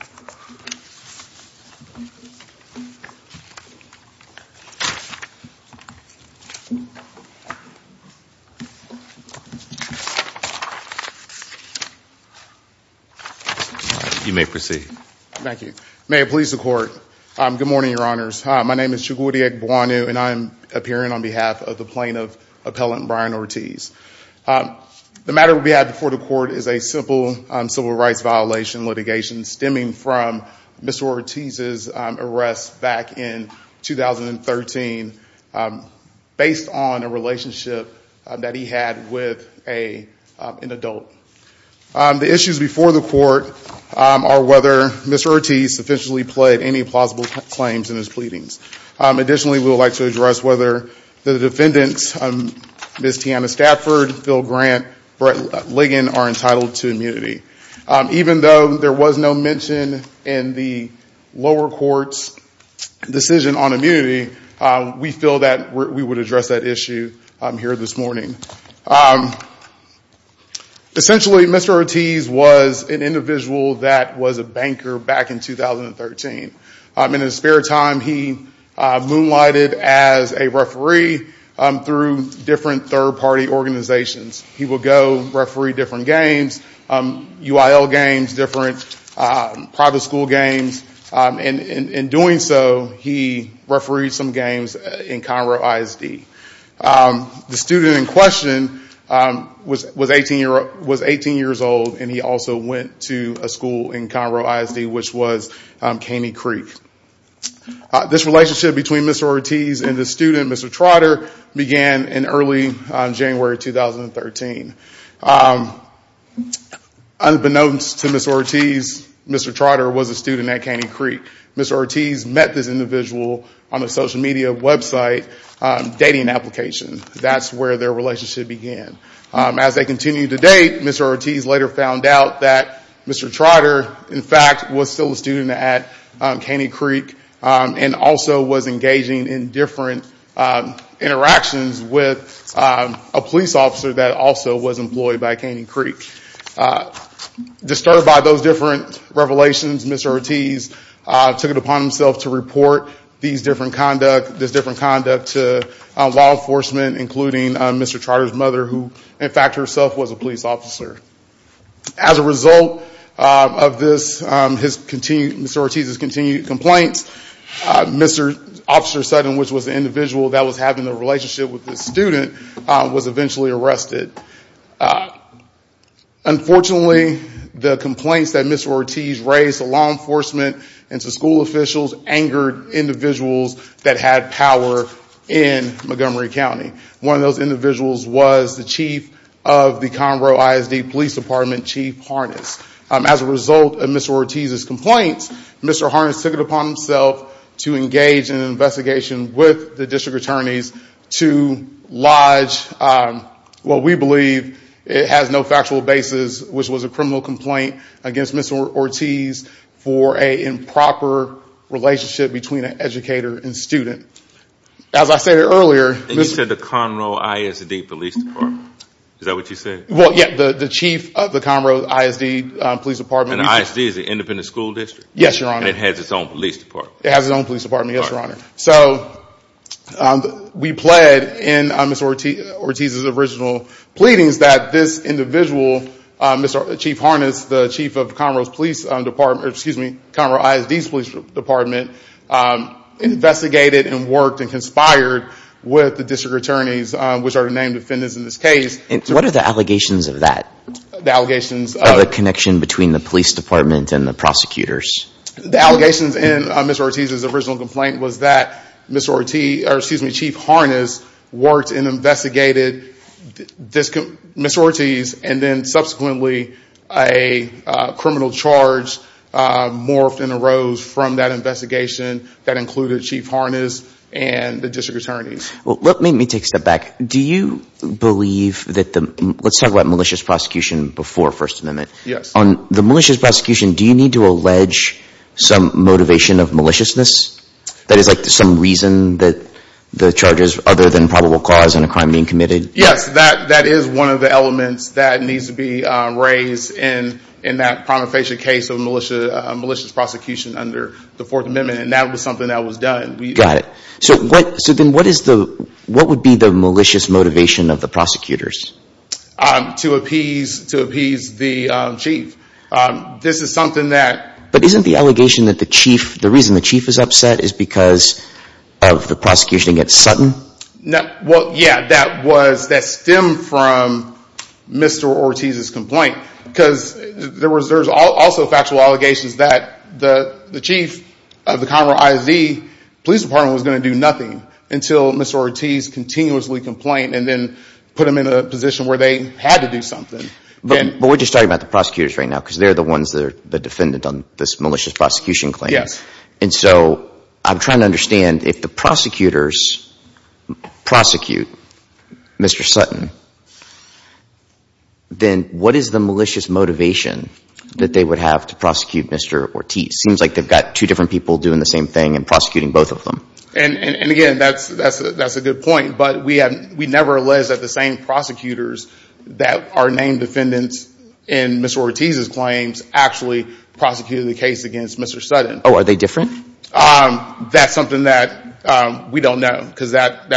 You may proceed. Thank you. May it please the court. Good morning, your honors. Hi, my name is Chagutiek Buonu and I'm appearing on behalf of the plaintiff appellant Brian Ortiz. The matter we have before the court is a simple civil rights violation litigation stemming from Mr. Ortiz's arrest back in 2013 based on a relationship that he had with an adult. The issues before the court are whether Mr. Ortiz officially pled any plausible claims in his pleadings. Additionally, we would like to address whether the defendants, Ms. Tiana Stafford, Phil Grant, Brett Ligon, are entitled to immunity. Even though there was no mention in the lower court's decision on immunity, we feel that we would address that issue here this morning. Essentially, Mr. Ortiz was an individual that in his spare time he moonlighted as a referee through different third party organizations. He would go referee different games, UIL games, different private school games. In doing so, he refereed some games in Conroe ISD. The student in question was 18 years old and he also went to a school in Conroe ISD which was Caney Creek. This relationship between Mr. Ortiz and the student, Mr. Trotter, began in early January 2013. Unbeknownst to Mr. Ortiz, Mr. Trotter was a student at Caney Creek. Mr. Ortiz met this individual on a social media website dating application. That's where their relationship began. As they continued to date, Mr. Ortiz later found out that Mr. Trotter, in fact, was still a student at Caney Creek and also was engaging in different interactions with a police officer that also was employed by Caney Creek. Disturbed by those different revelations, Mr. Ortiz took it upon himself to report this different conduct to law enforcement, including Mr. Trotter's mother, who in fact herself was a police officer. As a result of Mr. Ortiz's continued complaints, Mr. Officer Sutton, which was the individual that was having a relationship with the student, was eventually arrested. Unfortunately, the complaints that Mr. Ortiz raised to law enforcement and to school officials angered individuals that had power in Montgomery County. One of those individuals was the chief of the Conroe ISD Police Department, Chief Harness. As a result of Mr. Ortiz's complaints, Mr. Harness took it upon himself to engage in an investigation with the district attorneys to lodge what we believe has no factual basis, which was a criminal complaint against Mr. Ortiz for an improper relationship between an educator and student. As I said earlier, the chief of the Conroe ISD Police Department, we pled in Mr. Ortiz's original pleadings that this individual, Mr. Chief Harness, the chief of the Conroe ISD Police Department, investigated and worked and conspired with the district attorneys, which are the named defendants in this case. What are the allegations of that? The allegations of... Of the connection between the police department and the prosecutors? The allegations in Mr. Ortiz's original complaint was that Chief Harness worked and investigated Mr. Ortiz and then subsequently a criminal charge morphed and arose from that investigation that included Chief Harness and the district attorneys. Let me take a step back. Do you believe that the... Let's talk about malicious prosecution before First Amendment. Yes. On the malicious prosecution, do you need to allege some motivation of maliciousness? That is like some reason that the charges other than probable cause and a crime being committed? Yes, that is one of the elements that needs to be raised in that prima facie case of malicious prosecution under the Fourth Amendment and that was something that was done. Got it. So then what is the... What would be the malicious motivation of the prosecutors? To appease the chief. This is something that... But isn't the allegation that the chief... The reason the chief is upset is because of the prosecution against Sutton? Well, yeah. That stemmed from Mr. Ortiz's complaint because there's also factual allegations that the chief of the Conroe ISD Police Department was going to do nothing until Mr. Ortiz continuously complained and then put him in a position where they had to do something. But we're just talking about the prosecutors right now because they're the ones that are the defendant on this malicious prosecution claim. Yes. And so I'm trying to understand if the prosecutors prosecute Mr. Sutton, then what is the malicious motivation that they would have to prosecute Mr. Ortiz? Seems like they've got two different people doing the same thing and prosecuting both of them. And again, that's a good point, but we never alleged that the same prosecutors that are named defendants in Mr. Ortiz's claims actually prosecuted the case against Mr. Sutton. Oh, are they different? That's something that we don't know because that...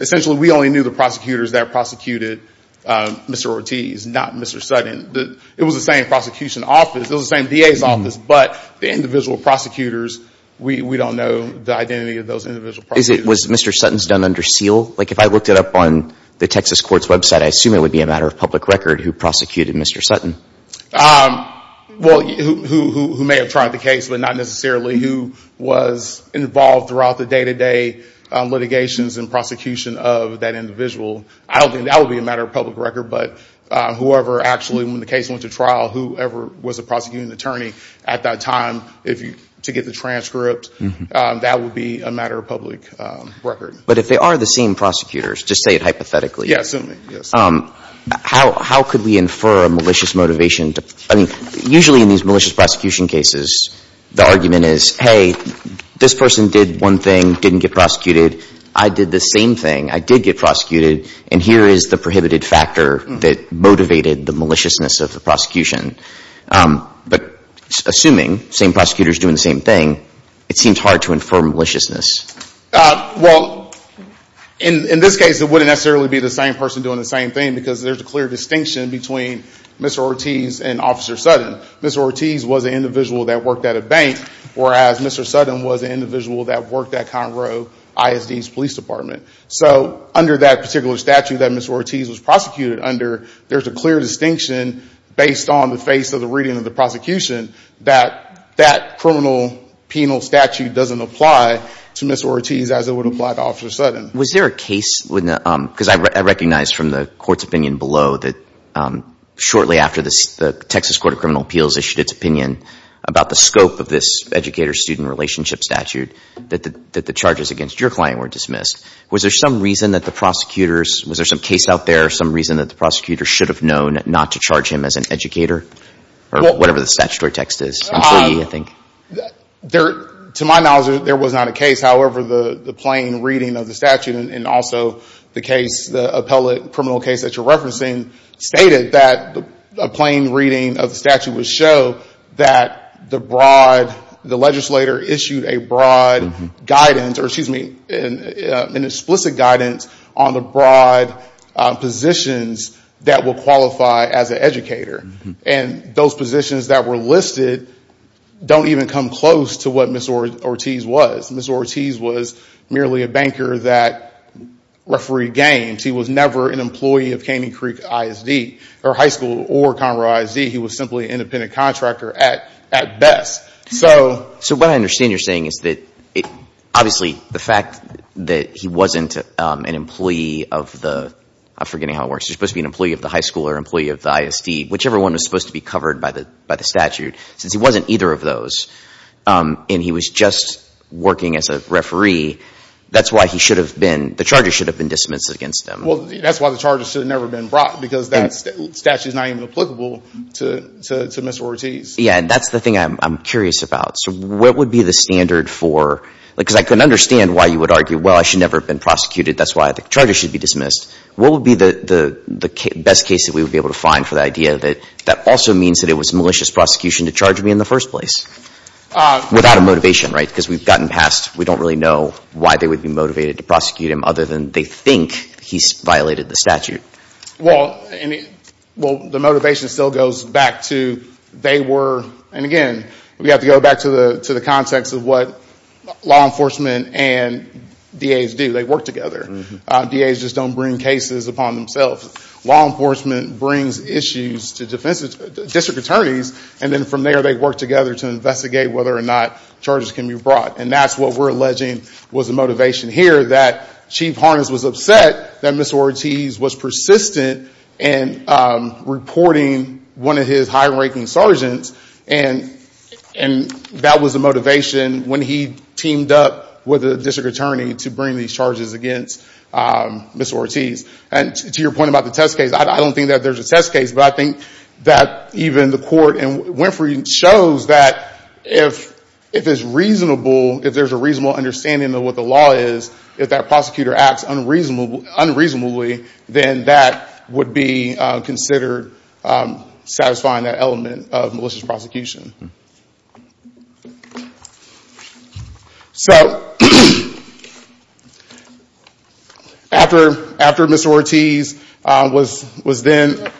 Essentially, we only knew the prosecutors that prosecuted Mr. Ortiz, not Mr. Sutton. It was the same prosecution office, it was the same DA's office, but the individual prosecutors, we don't know the identity of those individual prosecutors. Was Mr. Sutton's done under seal? Like if I looked it up on the Texas court's website, I assume it would be a matter of public record who prosecuted Mr. Sutton. Well, who may have tried the case, but not necessarily who was involved throughout the individual. I don't think that would be a matter of public record, but whoever actually, when the case went to trial, whoever was the prosecuting attorney at that time to get the transcript, that would be a matter of public record. But if they are the same prosecutors, just say it hypothetically, how could we infer a malicious motivation? Usually in these malicious prosecution cases, the argument is, hey, this person did one and here is the prohibited factor that motivated the maliciousness of the prosecution. But assuming the same prosecutor is doing the same thing, it seems hard to infer maliciousness. Well, in this case, it wouldn't necessarily be the same person doing the same thing because there's a clear distinction between Mr. Ortiz and Officer Sutton. Mr. Ortiz was an individual that worked at a bank, whereas Mr. Sutton was an individual that worked at Conroe ISD's police department. So under that particular statute that Mr. Ortiz was prosecuted under, there's a clear distinction based on the face of the reading of the prosecution that that criminal penal statute doesn't apply to Mr. Ortiz as it would apply to Officer Sutton. Was there a case, because I recognize from the court's opinion below that shortly after the Texas Court of Criminal Appeals issued its opinion about the scope of this educator student relationship statute, that the charges against your client were dismissed. Was there some reason that the prosecutors, was there some case out there, some reason that the prosecutors should have known not to charge him as an educator or whatever the statutory text is, employee, I think? To my knowledge, there was not a case. However, the plain reading of the statute and also the case, the appellate criminal case that you're referencing, stated that a plain reading of the statute would show that the legislator issued a broad guidance, or excuse me, an explicit guidance on the broad positions that would qualify as an educator. And those positions that were listed don't even come close to what Ms. Ortiz was. Ms. Ortiz was merely a banker that refereed games. He was never an employee of Caney Creek ISD or high school or Conroe ISD. He was simply an independent contractor at best. So what I understand you're saying is that, obviously, the fact that he wasn't an employee of the, I'm forgetting how it works, he was supposed to be an employee of the high school or employee of the ISD, whichever one was supposed to be covered by the statute, since he wasn't either of those, and he was just working as a referee, that's why he should have been, the charges should have been dismissed against him. Well, that's why the charges should have never been brought, because that statute is not even applicable to Ms. Ortiz. Yeah, and that's the thing I'm curious about. So what would be the standard for, because I couldn't understand why you would argue, well, I should never have been prosecuted, that's why the charges should be dismissed. What would be the best case that we would be able to find for the idea that that also means that it was malicious prosecution to charge me in the first place? Without a motivation, right? Because we've gotten past, we don't really know why they would be motivated to prosecute him other than they think he's violated the statute. Well, the motivation still goes back to, they were, and again, we have to go back to the context of what law enforcement and DAs do. They work together. DAs just don't bring cases upon themselves. Law enforcement brings issues to district attorneys, and then from there they work together to investigate whether or not charges can be brought. And that's what we're alleging was the motivation here, that Chief Harness was upset that Ms. Ortiz was persistent in reporting one of his high-ranking sergeants, and that was the motivation when he teamed up with a district attorney to bring these charges against Ms. Ortiz. And to your point about the test case, I don't think that there's a test case, but I think that even the court, and Winfrey shows that if it's reasonable, if there's a reasonable understanding of what the law is, if that prosecutor acts unreasonably, then that would be considered satisfying that element of malicious prosecution. So after Ms. Ortiz was then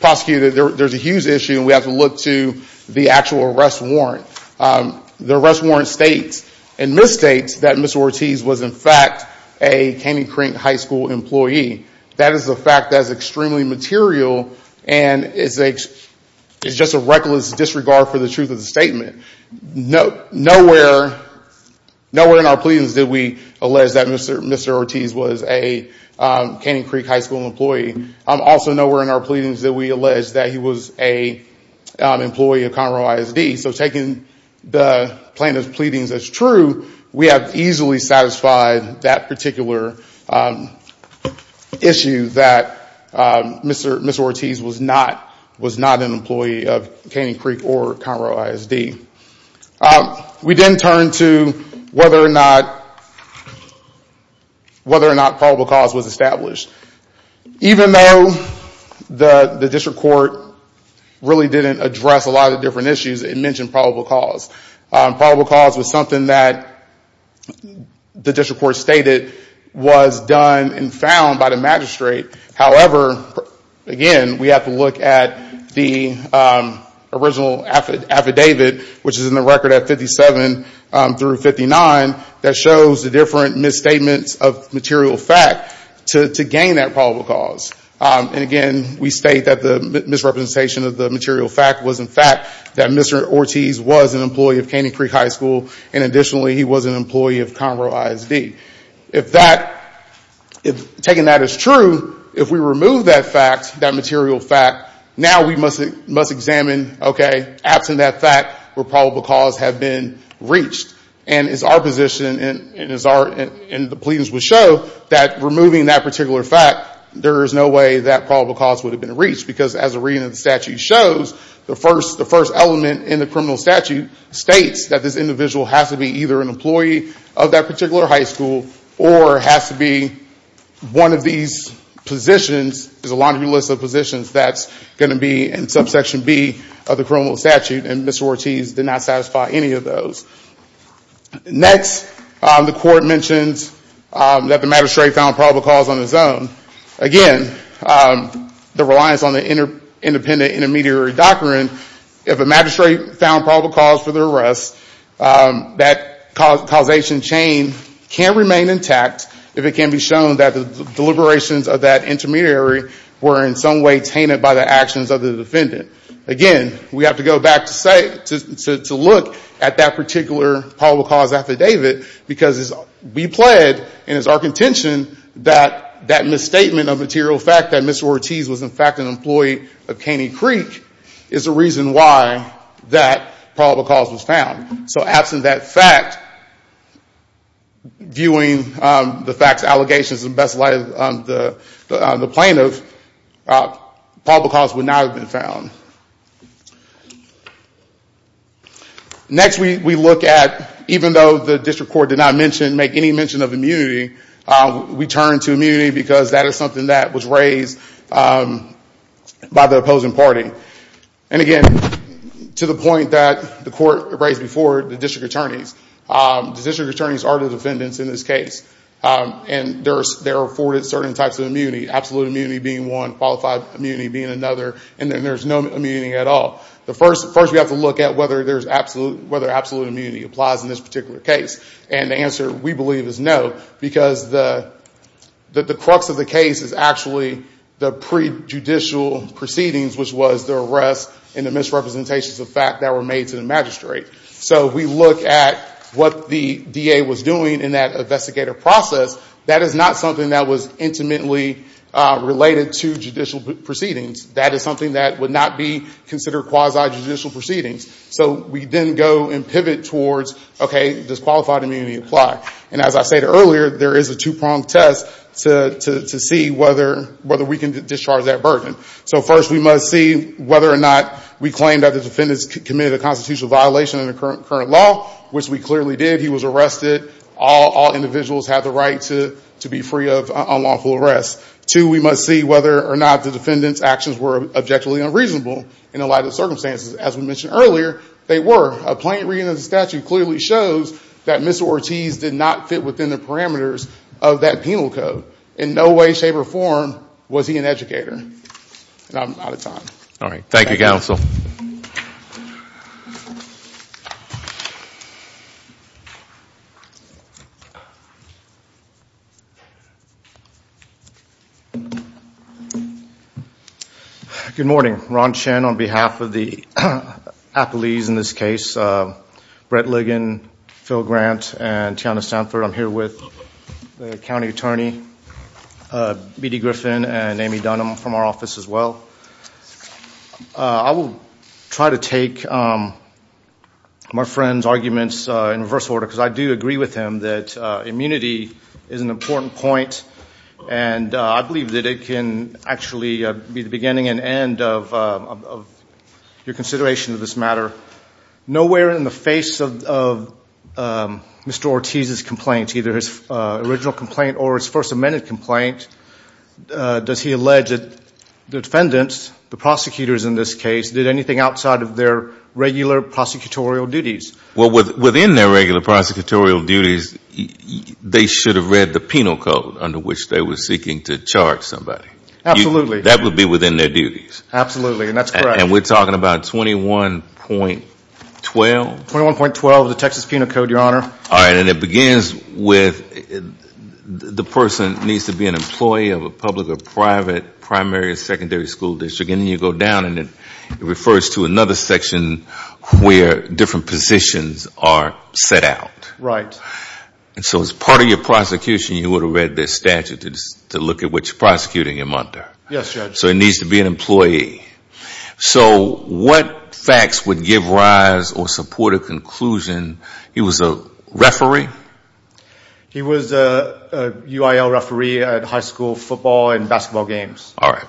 prosecuted, there's a huge issue, and we have to look to the actual arrest warrant. The arrest warrant states and misstates that Ms. Ortiz was, in fact, a Canning Creek High School employee. That is a fact that is extremely material, and it's just a reckless disregard for the truth of the statement. Nowhere in our pleadings did we allege that Mr. Ortiz was a Canning Creek High School employee. Also, nowhere in our pleadings did we allege that he was an employee of Conroe ISD. So taking the plaintiff's pleadings as true, we have easily satisfied that particular issue that Ms. Ortiz was not an employee of Canning Creek or Conroe ISD. We then turn to whether or not probable cause was established. Even though the district court really didn't address a lot of different issues, it mentioned probable cause. Probable cause was something that the district court stated was done and found by the magistrate. However, again, we have to look at the original affidavit, which is in the record at 57 through 59, that shows the different misstatements of material fact to gain that probable cause. And again, we state that the misrepresentation of the material fact was, in fact, that Mr. Ortiz was an employee of Canning Creek High School, and additionally, he was an employee of Conroe ISD. If that, taking that as true, if we remove that fact, that material fact, now we must examine, okay, absent that fact, would probable cause have been reached? And it's our position, and the pleadings will show, that removing that particular fact, there is no way that probable cause would have been reached. Because as the reading of the statute shows, the first element in the criminal statute states that this individual has to be either an employee of that particular high school or has to be one of these positions, there's a laundry list of positions, that's going to be in subsection B of the criminal statute, and Mr. Ortiz did not satisfy any of those. Next, the court mentions that the magistrate found probable cause on his own. Again, the reliance on the independent intermediary doctrine, if a magistrate found probable cause for the arrest, that causation chain can remain intact if it can be shown that the deliberations of that intermediary were in some way tainted by the actions of the defendant. Again, we have to go back to say, to look at that particular probable cause affidavit, because we plead, and it's our contention, that that misstatement of material fact, that Mr. Ortiz was in fact an employee of Caney Creek, is the reason why that probable cause was found. So absent that fact, viewing the facts, allegations, and best light of the plaintiff, probable cause would not have been found. Next we look at, even though the district court did not make any mention of immunity, we turn to immunity because that is something that was raised by the opposing party. And again, to the point that the court raised before, the district attorneys. The district attorneys are the defendants in this case. And they're afforded certain types of immunity, absolute immunity being one, qualified immunity being another, and then there's no immunity at all. First we have to look at whether absolute immunity applies in this particular case. And the answer, we believe, is no, because the crux of the case is actually the prejudicial proceedings, which was the arrest and the misrepresentations of fact that were made to the magistrate. So if we look at what the DA was doing in that investigative process, that is not something that was intimately related to judicial proceedings. That is something that would not be considered quasi-judicial proceedings. So we then go and pivot towards, okay, does qualified immunity apply? And as I stated earlier, there is a two-pronged test to see whether we can discharge that So first we must see whether or not we claim that the defendants committed a constitutional violation in the current law, which we clearly did. He was arrested. All individuals have the right to be free of unlawful arrest. Two, we must see whether or not the defendants' actions were objectively unreasonable in the light of the circumstances. As we mentioned earlier, they were. A plain reading of the statute clearly shows that Mr. Ortiz did not fit within the parameters of that penal code. In no way, shape, or form was he an educator. And I'm out of time. Thank you, Counsel. Good morning. Ron Chen on behalf of the appelees in this case, Brett Ligon, Phil Grant, and Tiana Stanford. I'm here with the county attorney, B.D. Griffin, and Amy Dunham from our office as well. I will try to take my friend's arguments in reverse order because I do agree with him that immunity is an important point and I believe that it can actually be the beginning and end of your consideration of this matter. Nowhere in the face of Mr. Ortiz's complaint, either his original complaint or his first amended complaint, does he allege that the defendants, the prosecutors in this case, did anything outside of their regular prosecutorial duties. Well, within their regular prosecutorial duties, they should have read the penal code under which they were seeking to charge somebody. Absolutely. That would be within their duties. Absolutely. And that's correct. And we're talking about 21.12? 21.12, the Texas Penal Code, Your Honor. All right. And it begins with the person needs to be an employee of a public or private primary or secondary school district. And then you go down and it refers to another section where different positions are set out. Right. And so as part of your prosecution, you would have read this statute to look at what you're prosecuting him under. Yes, Judge. So he needs to be an employee. So what facts would give rise or support a conclusion he was a referee? He was a UIL referee at high school football and basketball games. All right.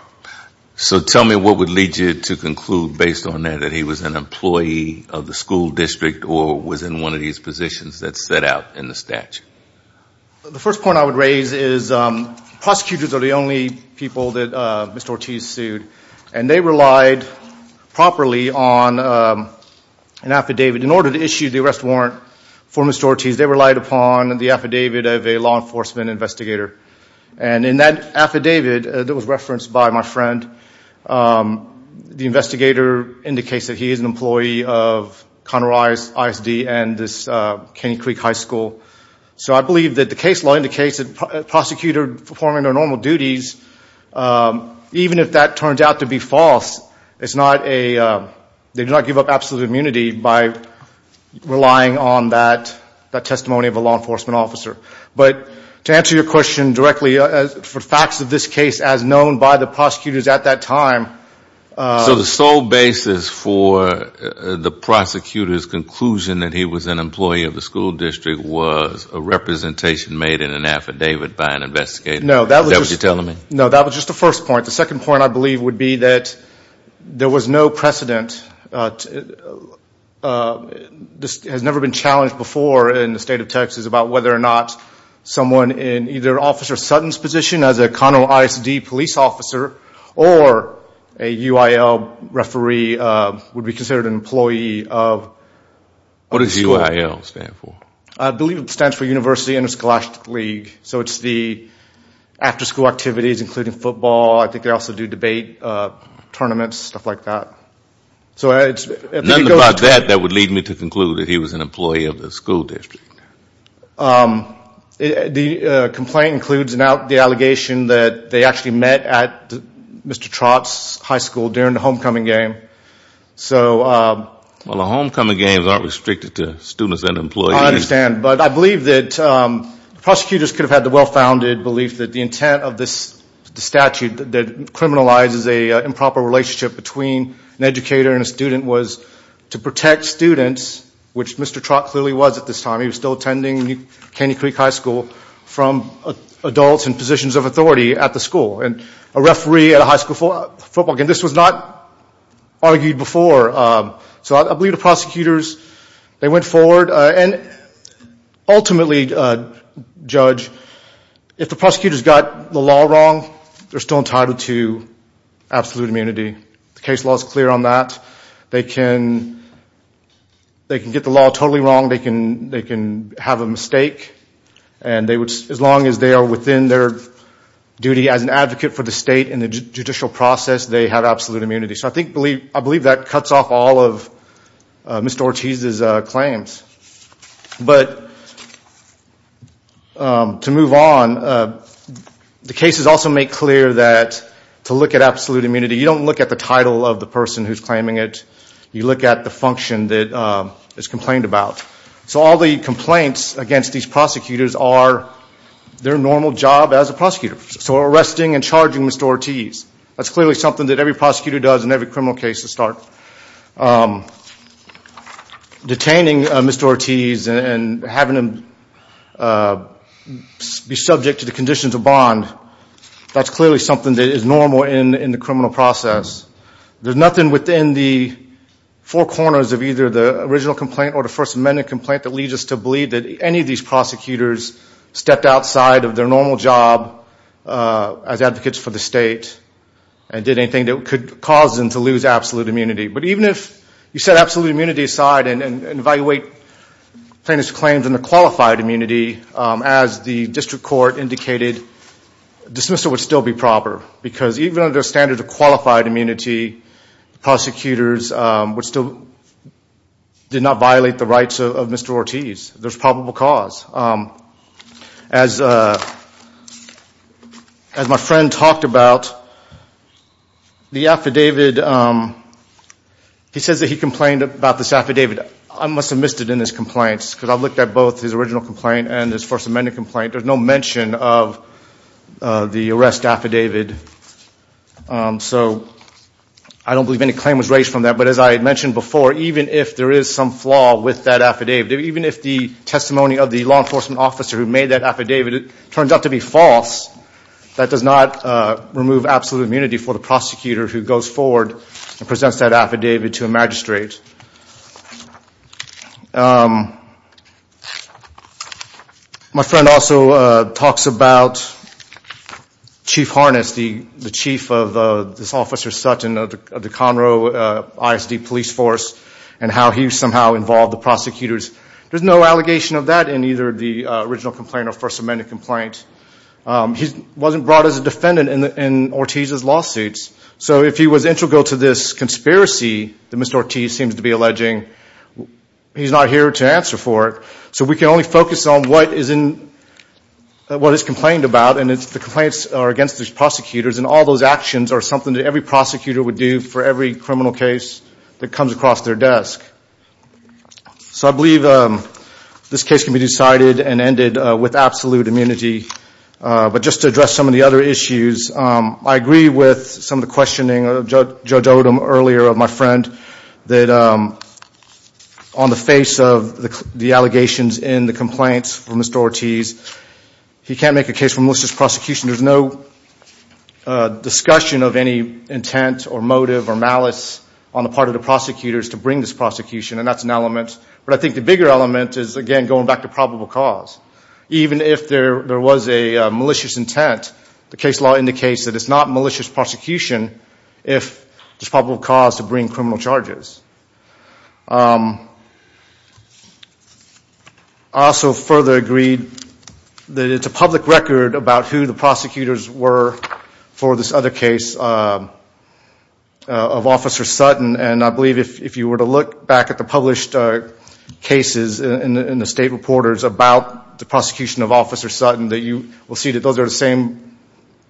So tell me what would lead you to conclude based on that that he was an employee of the school district or was in one of these positions that's set out in the statute. The first point I would raise is prosecutors are the only people that Mr. Ortiz sued. And they relied properly on an affidavit. In order to issue the arrest warrant for Mr. Ortiz, they relied upon the affidavit of a law enforcement investigator. And in that affidavit that was referenced by my friend, the investigator indicates that he is an employee of Conner Eyes ISD and this Caney Creek High School. So I believe that the case law indicates that a prosecutor performing their normal duties, even if that turns out to be false, it's not a, they do not give up absolute immunity by relying on that testimony of a law enforcement officer. But to answer your question directly, for facts of this case as known by the prosecutors at that time. So the sole basis for the prosecutor's conclusion that he was an employee of the school district was a representation made in an affidavit by an investigator? Is that what you're telling me? No, that was just the first point. The second point I believe would be that there was no precedent. This has never been challenged before in the state of Texas about whether or not someone in either Officer Sutton's position as a Conner Eyes ISD police officer or a UIL referee would be considered an employee of. What does UIL stand for? I believe it stands for University Interscholastic League. So it's the after school activities, including football. I think they also do debate tournaments, stuff like that. So it's. Nothing about that that would lead me to conclude that he was an employee of the school district. The complaint includes the allegation that they actually met at Mr. Trott's high school during the homecoming game. So. Well, the homecoming games aren't restricted to students and employees. I understand. But I believe that prosecutors could have had the well-founded belief that the intent of this statute that criminalizes an improper relationship between an educator and a student was to protect students, which Mr. Trott clearly was at this time. He was still attending Caney Creek High School from adults in positions of authority at the school. And a referee at a high school football game. This was not argued before. So I believe the prosecutors, they went forward. And ultimately, Judge, if the prosecutors got the law wrong, they're still entitled to absolute immunity. The case law is clear on that. They can get the law totally wrong. They can have a mistake. And as long as they are within their duty as an advocate for the state in the judicial process, they have absolute immunity. So I believe that cuts off all of Mr. Ortiz's claims. But to move on, the cases also make clear that to look at absolute immunity, you don't look at the title of the person who's claiming it. You look at the function that is complained about. So all the complaints against these prosecutors are their normal job as a prosecutor. So arresting and charging Mr. Ortiz, that's clearly something that every prosecutor does in every criminal case to start. Detaining Mr. Ortiz and having him be subject to the conditions of bond, that's clearly something that is normal in the criminal process. There's nothing within the four corners of either the original complaint or the First Amendment complaint that leads us to believe that any of these prosecutors stepped outside of their normal job as advocates for the state and did anything that could cause them to lose absolute immunity. But even if you set absolute immunity aside and evaluate plaintiff's claims and the qualified immunity, as the district court indicated, dismissal would still be proper. Because even under a standard of qualified immunity, prosecutors would still, did not violate the rights of Mr. Ortiz. There's probable cause. As my friend talked about, the affidavit, he says that he complained about this affidavit. I must have missed it in this complaint because I've looked at both his original complaint and his First Amendment complaint. There's no mention of the arrest affidavit. So I don't believe any claim was raised from that. But as I had mentioned before, even if there is some flaw with that affidavit, even if the testimony of the law enforcement officer who made that affidavit turns out to be false, that does not remove absolute immunity for the prosecutor who goes forward and presents that affidavit to a magistrate. My friend also talks about Chief Harness, the chief of this Officer Sutton of the Conroe ISD police force and how he somehow involved the prosecutors. There's no allegation of that in either the original complaint or First Amendment complaint. He wasn't brought as a defendant in Ortiz's lawsuits. So if he was integral to this conspiracy that Mr. Ortiz seems to be alleging, he's not here to answer for it. So we can only focus on what is complained about. And the complaints are against these prosecutors. And all those actions are something that every prosecutor would do for every criminal case that comes across their desk. So I believe this case can be decided and ended with absolute immunity. But just to address some of the other issues, I agree with some of the questioning of Judge Odom earlier, of my friend, that on the face of the allegations in the complaints from Mr. Ortiz, he can't make a case for malicious prosecution. There's no discussion of any intent or motive or malice on the part of the prosecutors to bring this prosecution, and that's an element. But I think the bigger element is, again, going back to probable cause. Even if there was a malicious intent, the case law indicates that it's not malicious prosecution if there's probable cause to bring criminal charges. I also further agree that it's a public record about who the prosecutors were for this other case of Officer Sutton. And I believe if you were to look back at the published cases in the state reporters about the prosecution of Officer Sutton, that you will see that those are the same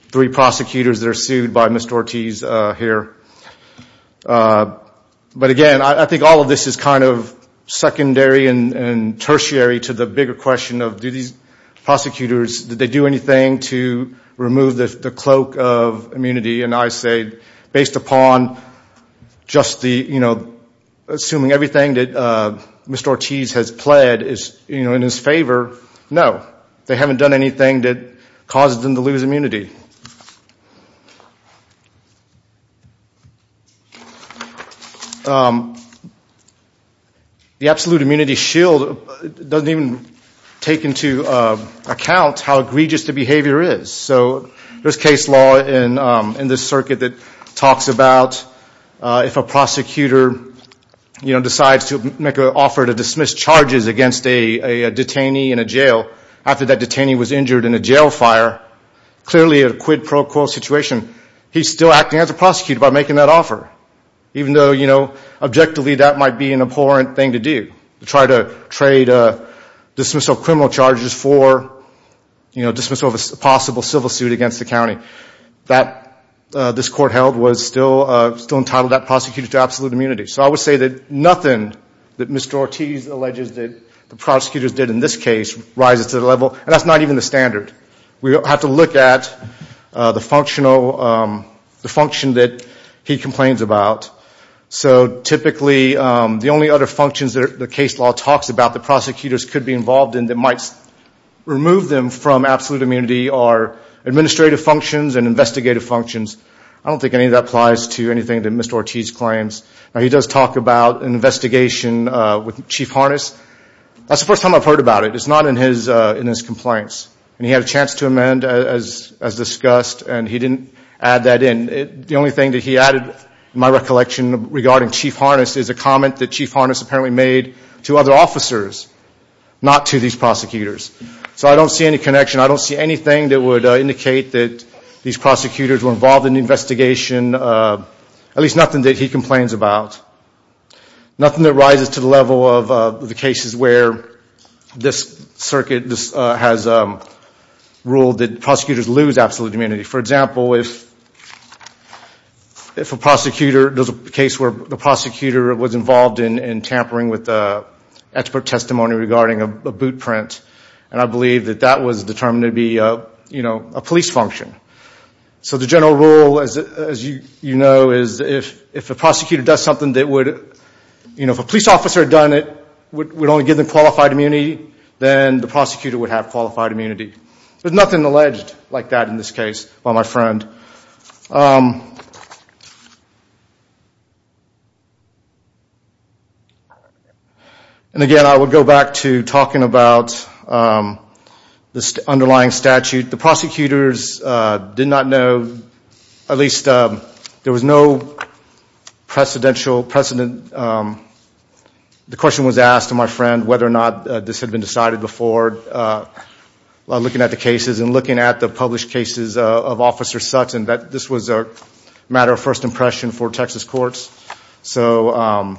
three prosecutors that are sued by Mr. Ortiz here. But again, I think all of this is kind of secondary and tertiary to the bigger question of, do these prosecutors, did they do anything to remove the cloak of immunity? And I say, based upon just the, you know, assuming everything that Mr. Ortiz has pled in his favor, no. They haven't done anything that causes them to lose immunity. The absolute immunity shield doesn't even take into account how egregious the behavior is. So there's case law in this circuit that talks about if a prosecutor, you know, decides to make an offer to dismiss charges against a detainee in a jail after that detainee was injured in a jail fire, clearly a quid pro quo situation, he's still acting as a prosecutor by making that offer. Even though, you know, objectively that might be an abhorrent thing to do, to try to trade dismissal of criminal charges for dismissal of a possible civil suit against the county. This court held was still entitled that prosecutor to absolute immunity. So I would say that nothing that Mr. Ortiz alleges that the prosecutors did in this case rises to the level, and that's not even the standard. We have to look at the functional, the function that he complains about. So typically the only other functions that the case law talks about the prosecutors could be involved in that might remove them from absolute immunity are administrative functions and investigative functions. I don't think any of that applies to anything that Mr. Ortiz claims. Now he does talk about an investigation with Chief Harness. That's the first time I've heard about it. It's not in his complaints. And he had a chance to amend as discussed, and he didn't add that in. The only thing that he added, in my recollection, regarding Chief Harness is a comment that Chief Harness apparently made to other officers, not to these prosecutors. So I don't see any connection. I don't see anything that would indicate that these prosecutors were involved in the investigation. At least nothing that he complains about. Nothing that rises to the level of the cases where this circuit has ruled that prosecutors lose absolute immunity. For example, if a prosecutor, there's a case where the prosecutor was involved in tampering with expert testimony regarding a boot print, and I believe that that was determined to be a police function. So the general rule, as you know, is if a prosecutor does something that would, if a police officer had done it, would only give them qualified immunity, then the prosecutor would have qualified immunity. There's nothing alleged like that in this case by my friend. And again, I would go back to talking about this underlying statute. The prosecutors did not know, at least there was no precedential precedent. The question was asked to my friend whether or not this had been decided before. Looking at the cases and looking at the published cases of Officer Sutton, this was a matter of first impression for Texas courts. So I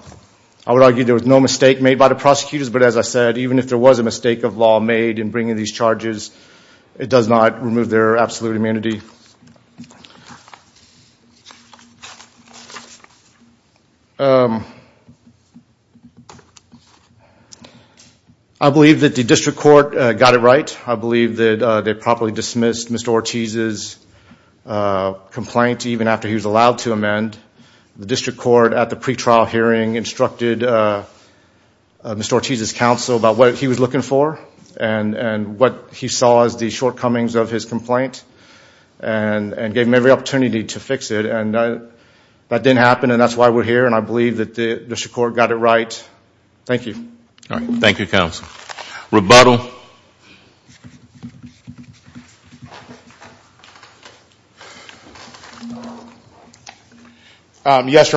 would argue there was no mistake made by the prosecutors, but as I said, even if there was a mistake of law made in bringing these charges, it does not remove their absolute immunity. I believe that the district court got it right. I believe that they properly dismissed Mr. Ortiz's complaint even after he was allowed to amend. The district court at the pretrial hearing instructed Mr. Ortiz's counsel about what he was looking for and what he saw as the shortcomings of his complaint. And gave him every opportunity to fix it. That didn't happen and that's why we're here and I believe the district court got it right. Thank you. Yes, Your Honor. Your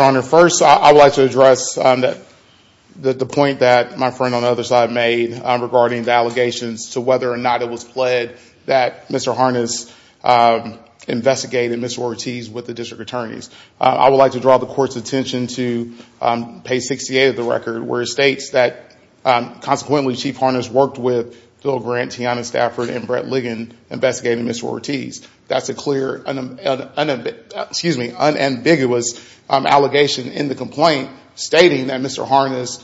Honor, first I would like to address the point that my friend on the other side made regarding the allegations to whether or not it was pled that Mr. Harness investigated Mr. Ortiz with the district attorneys. I would like to draw the court's attention to page 68 of the record where it states that consequently Chief Harness worked with Phil Grant, Tiana Stafford, and Brett Ligon investigating Mr. Ortiz. That's a clear, excuse me, unambiguous allegation in the complaint stating that Mr. Harness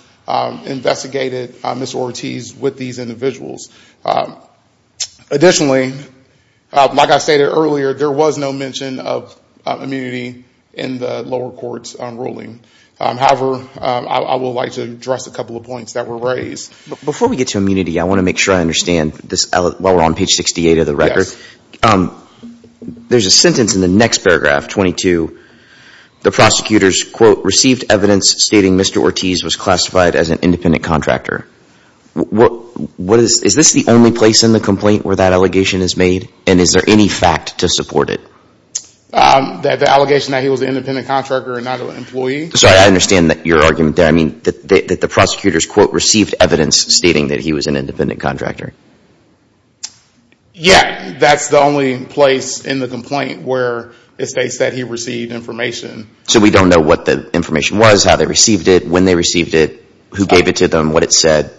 investigated Mr. Ortiz with these individuals. Additionally, like I stated earlier, there was no mention of immunity in the lower court's ruling. However, I would like to address a couple of points that were raised. Before we get to immunity, I want to make sure I understand while we're on page 68 of the record. There's a sentence in the next paragraph, 22. The prosecutors, quote, received evidence stating Mr. Ortiz was classified as an independent contractor. Is this the only place in the complaint where that allegation is made and is there any fact to support it? The allegation that he was an independent contractor and not an employee? Sorry, I understand your argument there. I mean that the prosecutors, quote, received evidence stating that he was an independent contractor. Yeah, that's the only place in the complaint where it states that he received information. So we don't know what the information was, how they received it, when they received it, who gave it to them, what it said?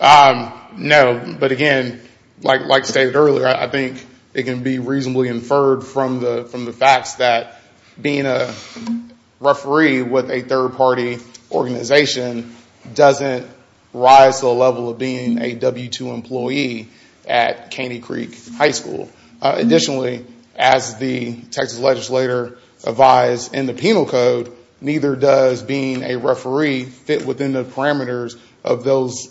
No, but again, like stated earlier, I think it can be reasonably inferred from the facts that being a referee with a third-party organization doesn't rise to the level of being a W-2 employee at Caney Creek High School. Additionally, as the Texas legislator advised in the penal code, neither does being a referee fit within the parameters of those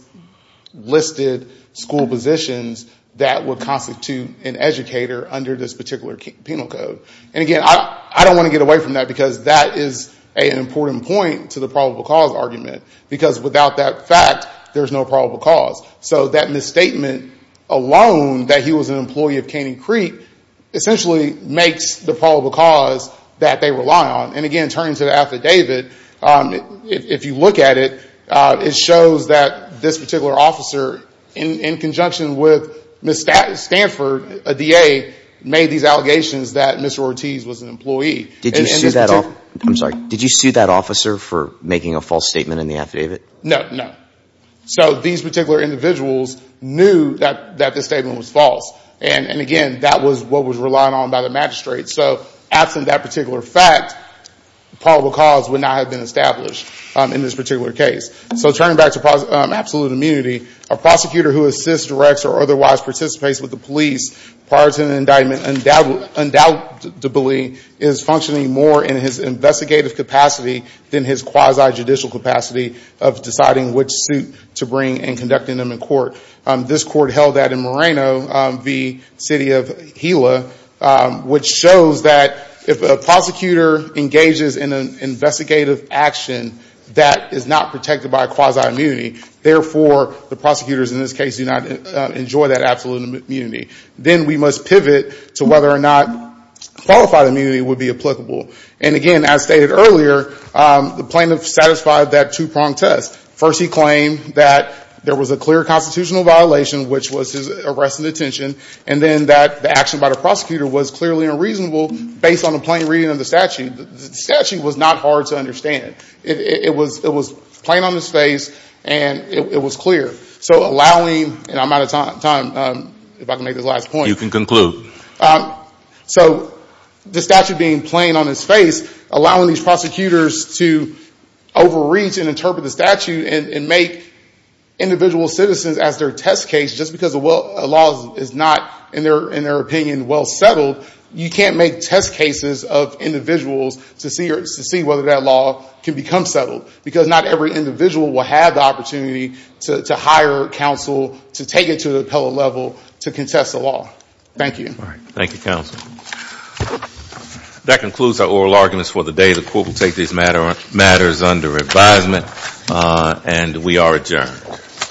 listed school positions that would constitute an educator under this particular penal code. And again, I don't want to get away from that because that is an important point to the probable cause argument. Because without that fact, there's no probable cause. So that misstatement alone, that he was an employee of Caney Creek, essentially makes the probable cause that they rely on. And again, turning to the affidavit, if you look at it, it shows that this particular officer, in conjunction with Ms. Stanford, a DA, made these allegations that Mr. Ortiz was an employee. Did you sue that officer for making a false statement in the affidavit? No, no. So these particular individuals knew that this statement was false. And again, that was what was relied on by the magistrate. So absent that particular fact, probable cause would not have been established in this particular case. So turning back to absolute immunity, a prosecutor who assists, directs, or otherwise participates with the police prior to an indictment, undoubtedly is functioning more in his investigative capacity than his quasi-judicial capacity of deciding which suit to bring and conducting them in court. This court held that in Moreno v. City of Gila, which shows that if a prosecutor engages in an investigative action that is not protected by quasi-immunity, therefore, the prosecutors in this case do not enjoy that absolute immunity. Then we must pivot to whether or not qualified immunity would be applicable. And again, as stated earlier, the plaintiff satisfied that two-pronged test. First, he claimed that there was a clear constitutional violation, which was his arrest and detention, and then that the action by the prosecutor was clearly unreasonable based on a plain reading of the statute. Again, it was plain on his face, and it was clear. So allowing, and I'm out of time, if I can make this last point. You can conclude. So the statute being plain on his face, allowing these prosecutors to overreach and interpret the statute and make individual citizens as their test case, just because the law is not, in their opinion, well settled, you can't make test cases of individuals to see whether that law can become settled. Because not every individual will have the opportunity to hire counsel to take it to the appellate level to contest the law. Thank you. Thank you, counsel. That concludes our oral arguments for the day. The court will take these matters under advisement, and we are adjourned.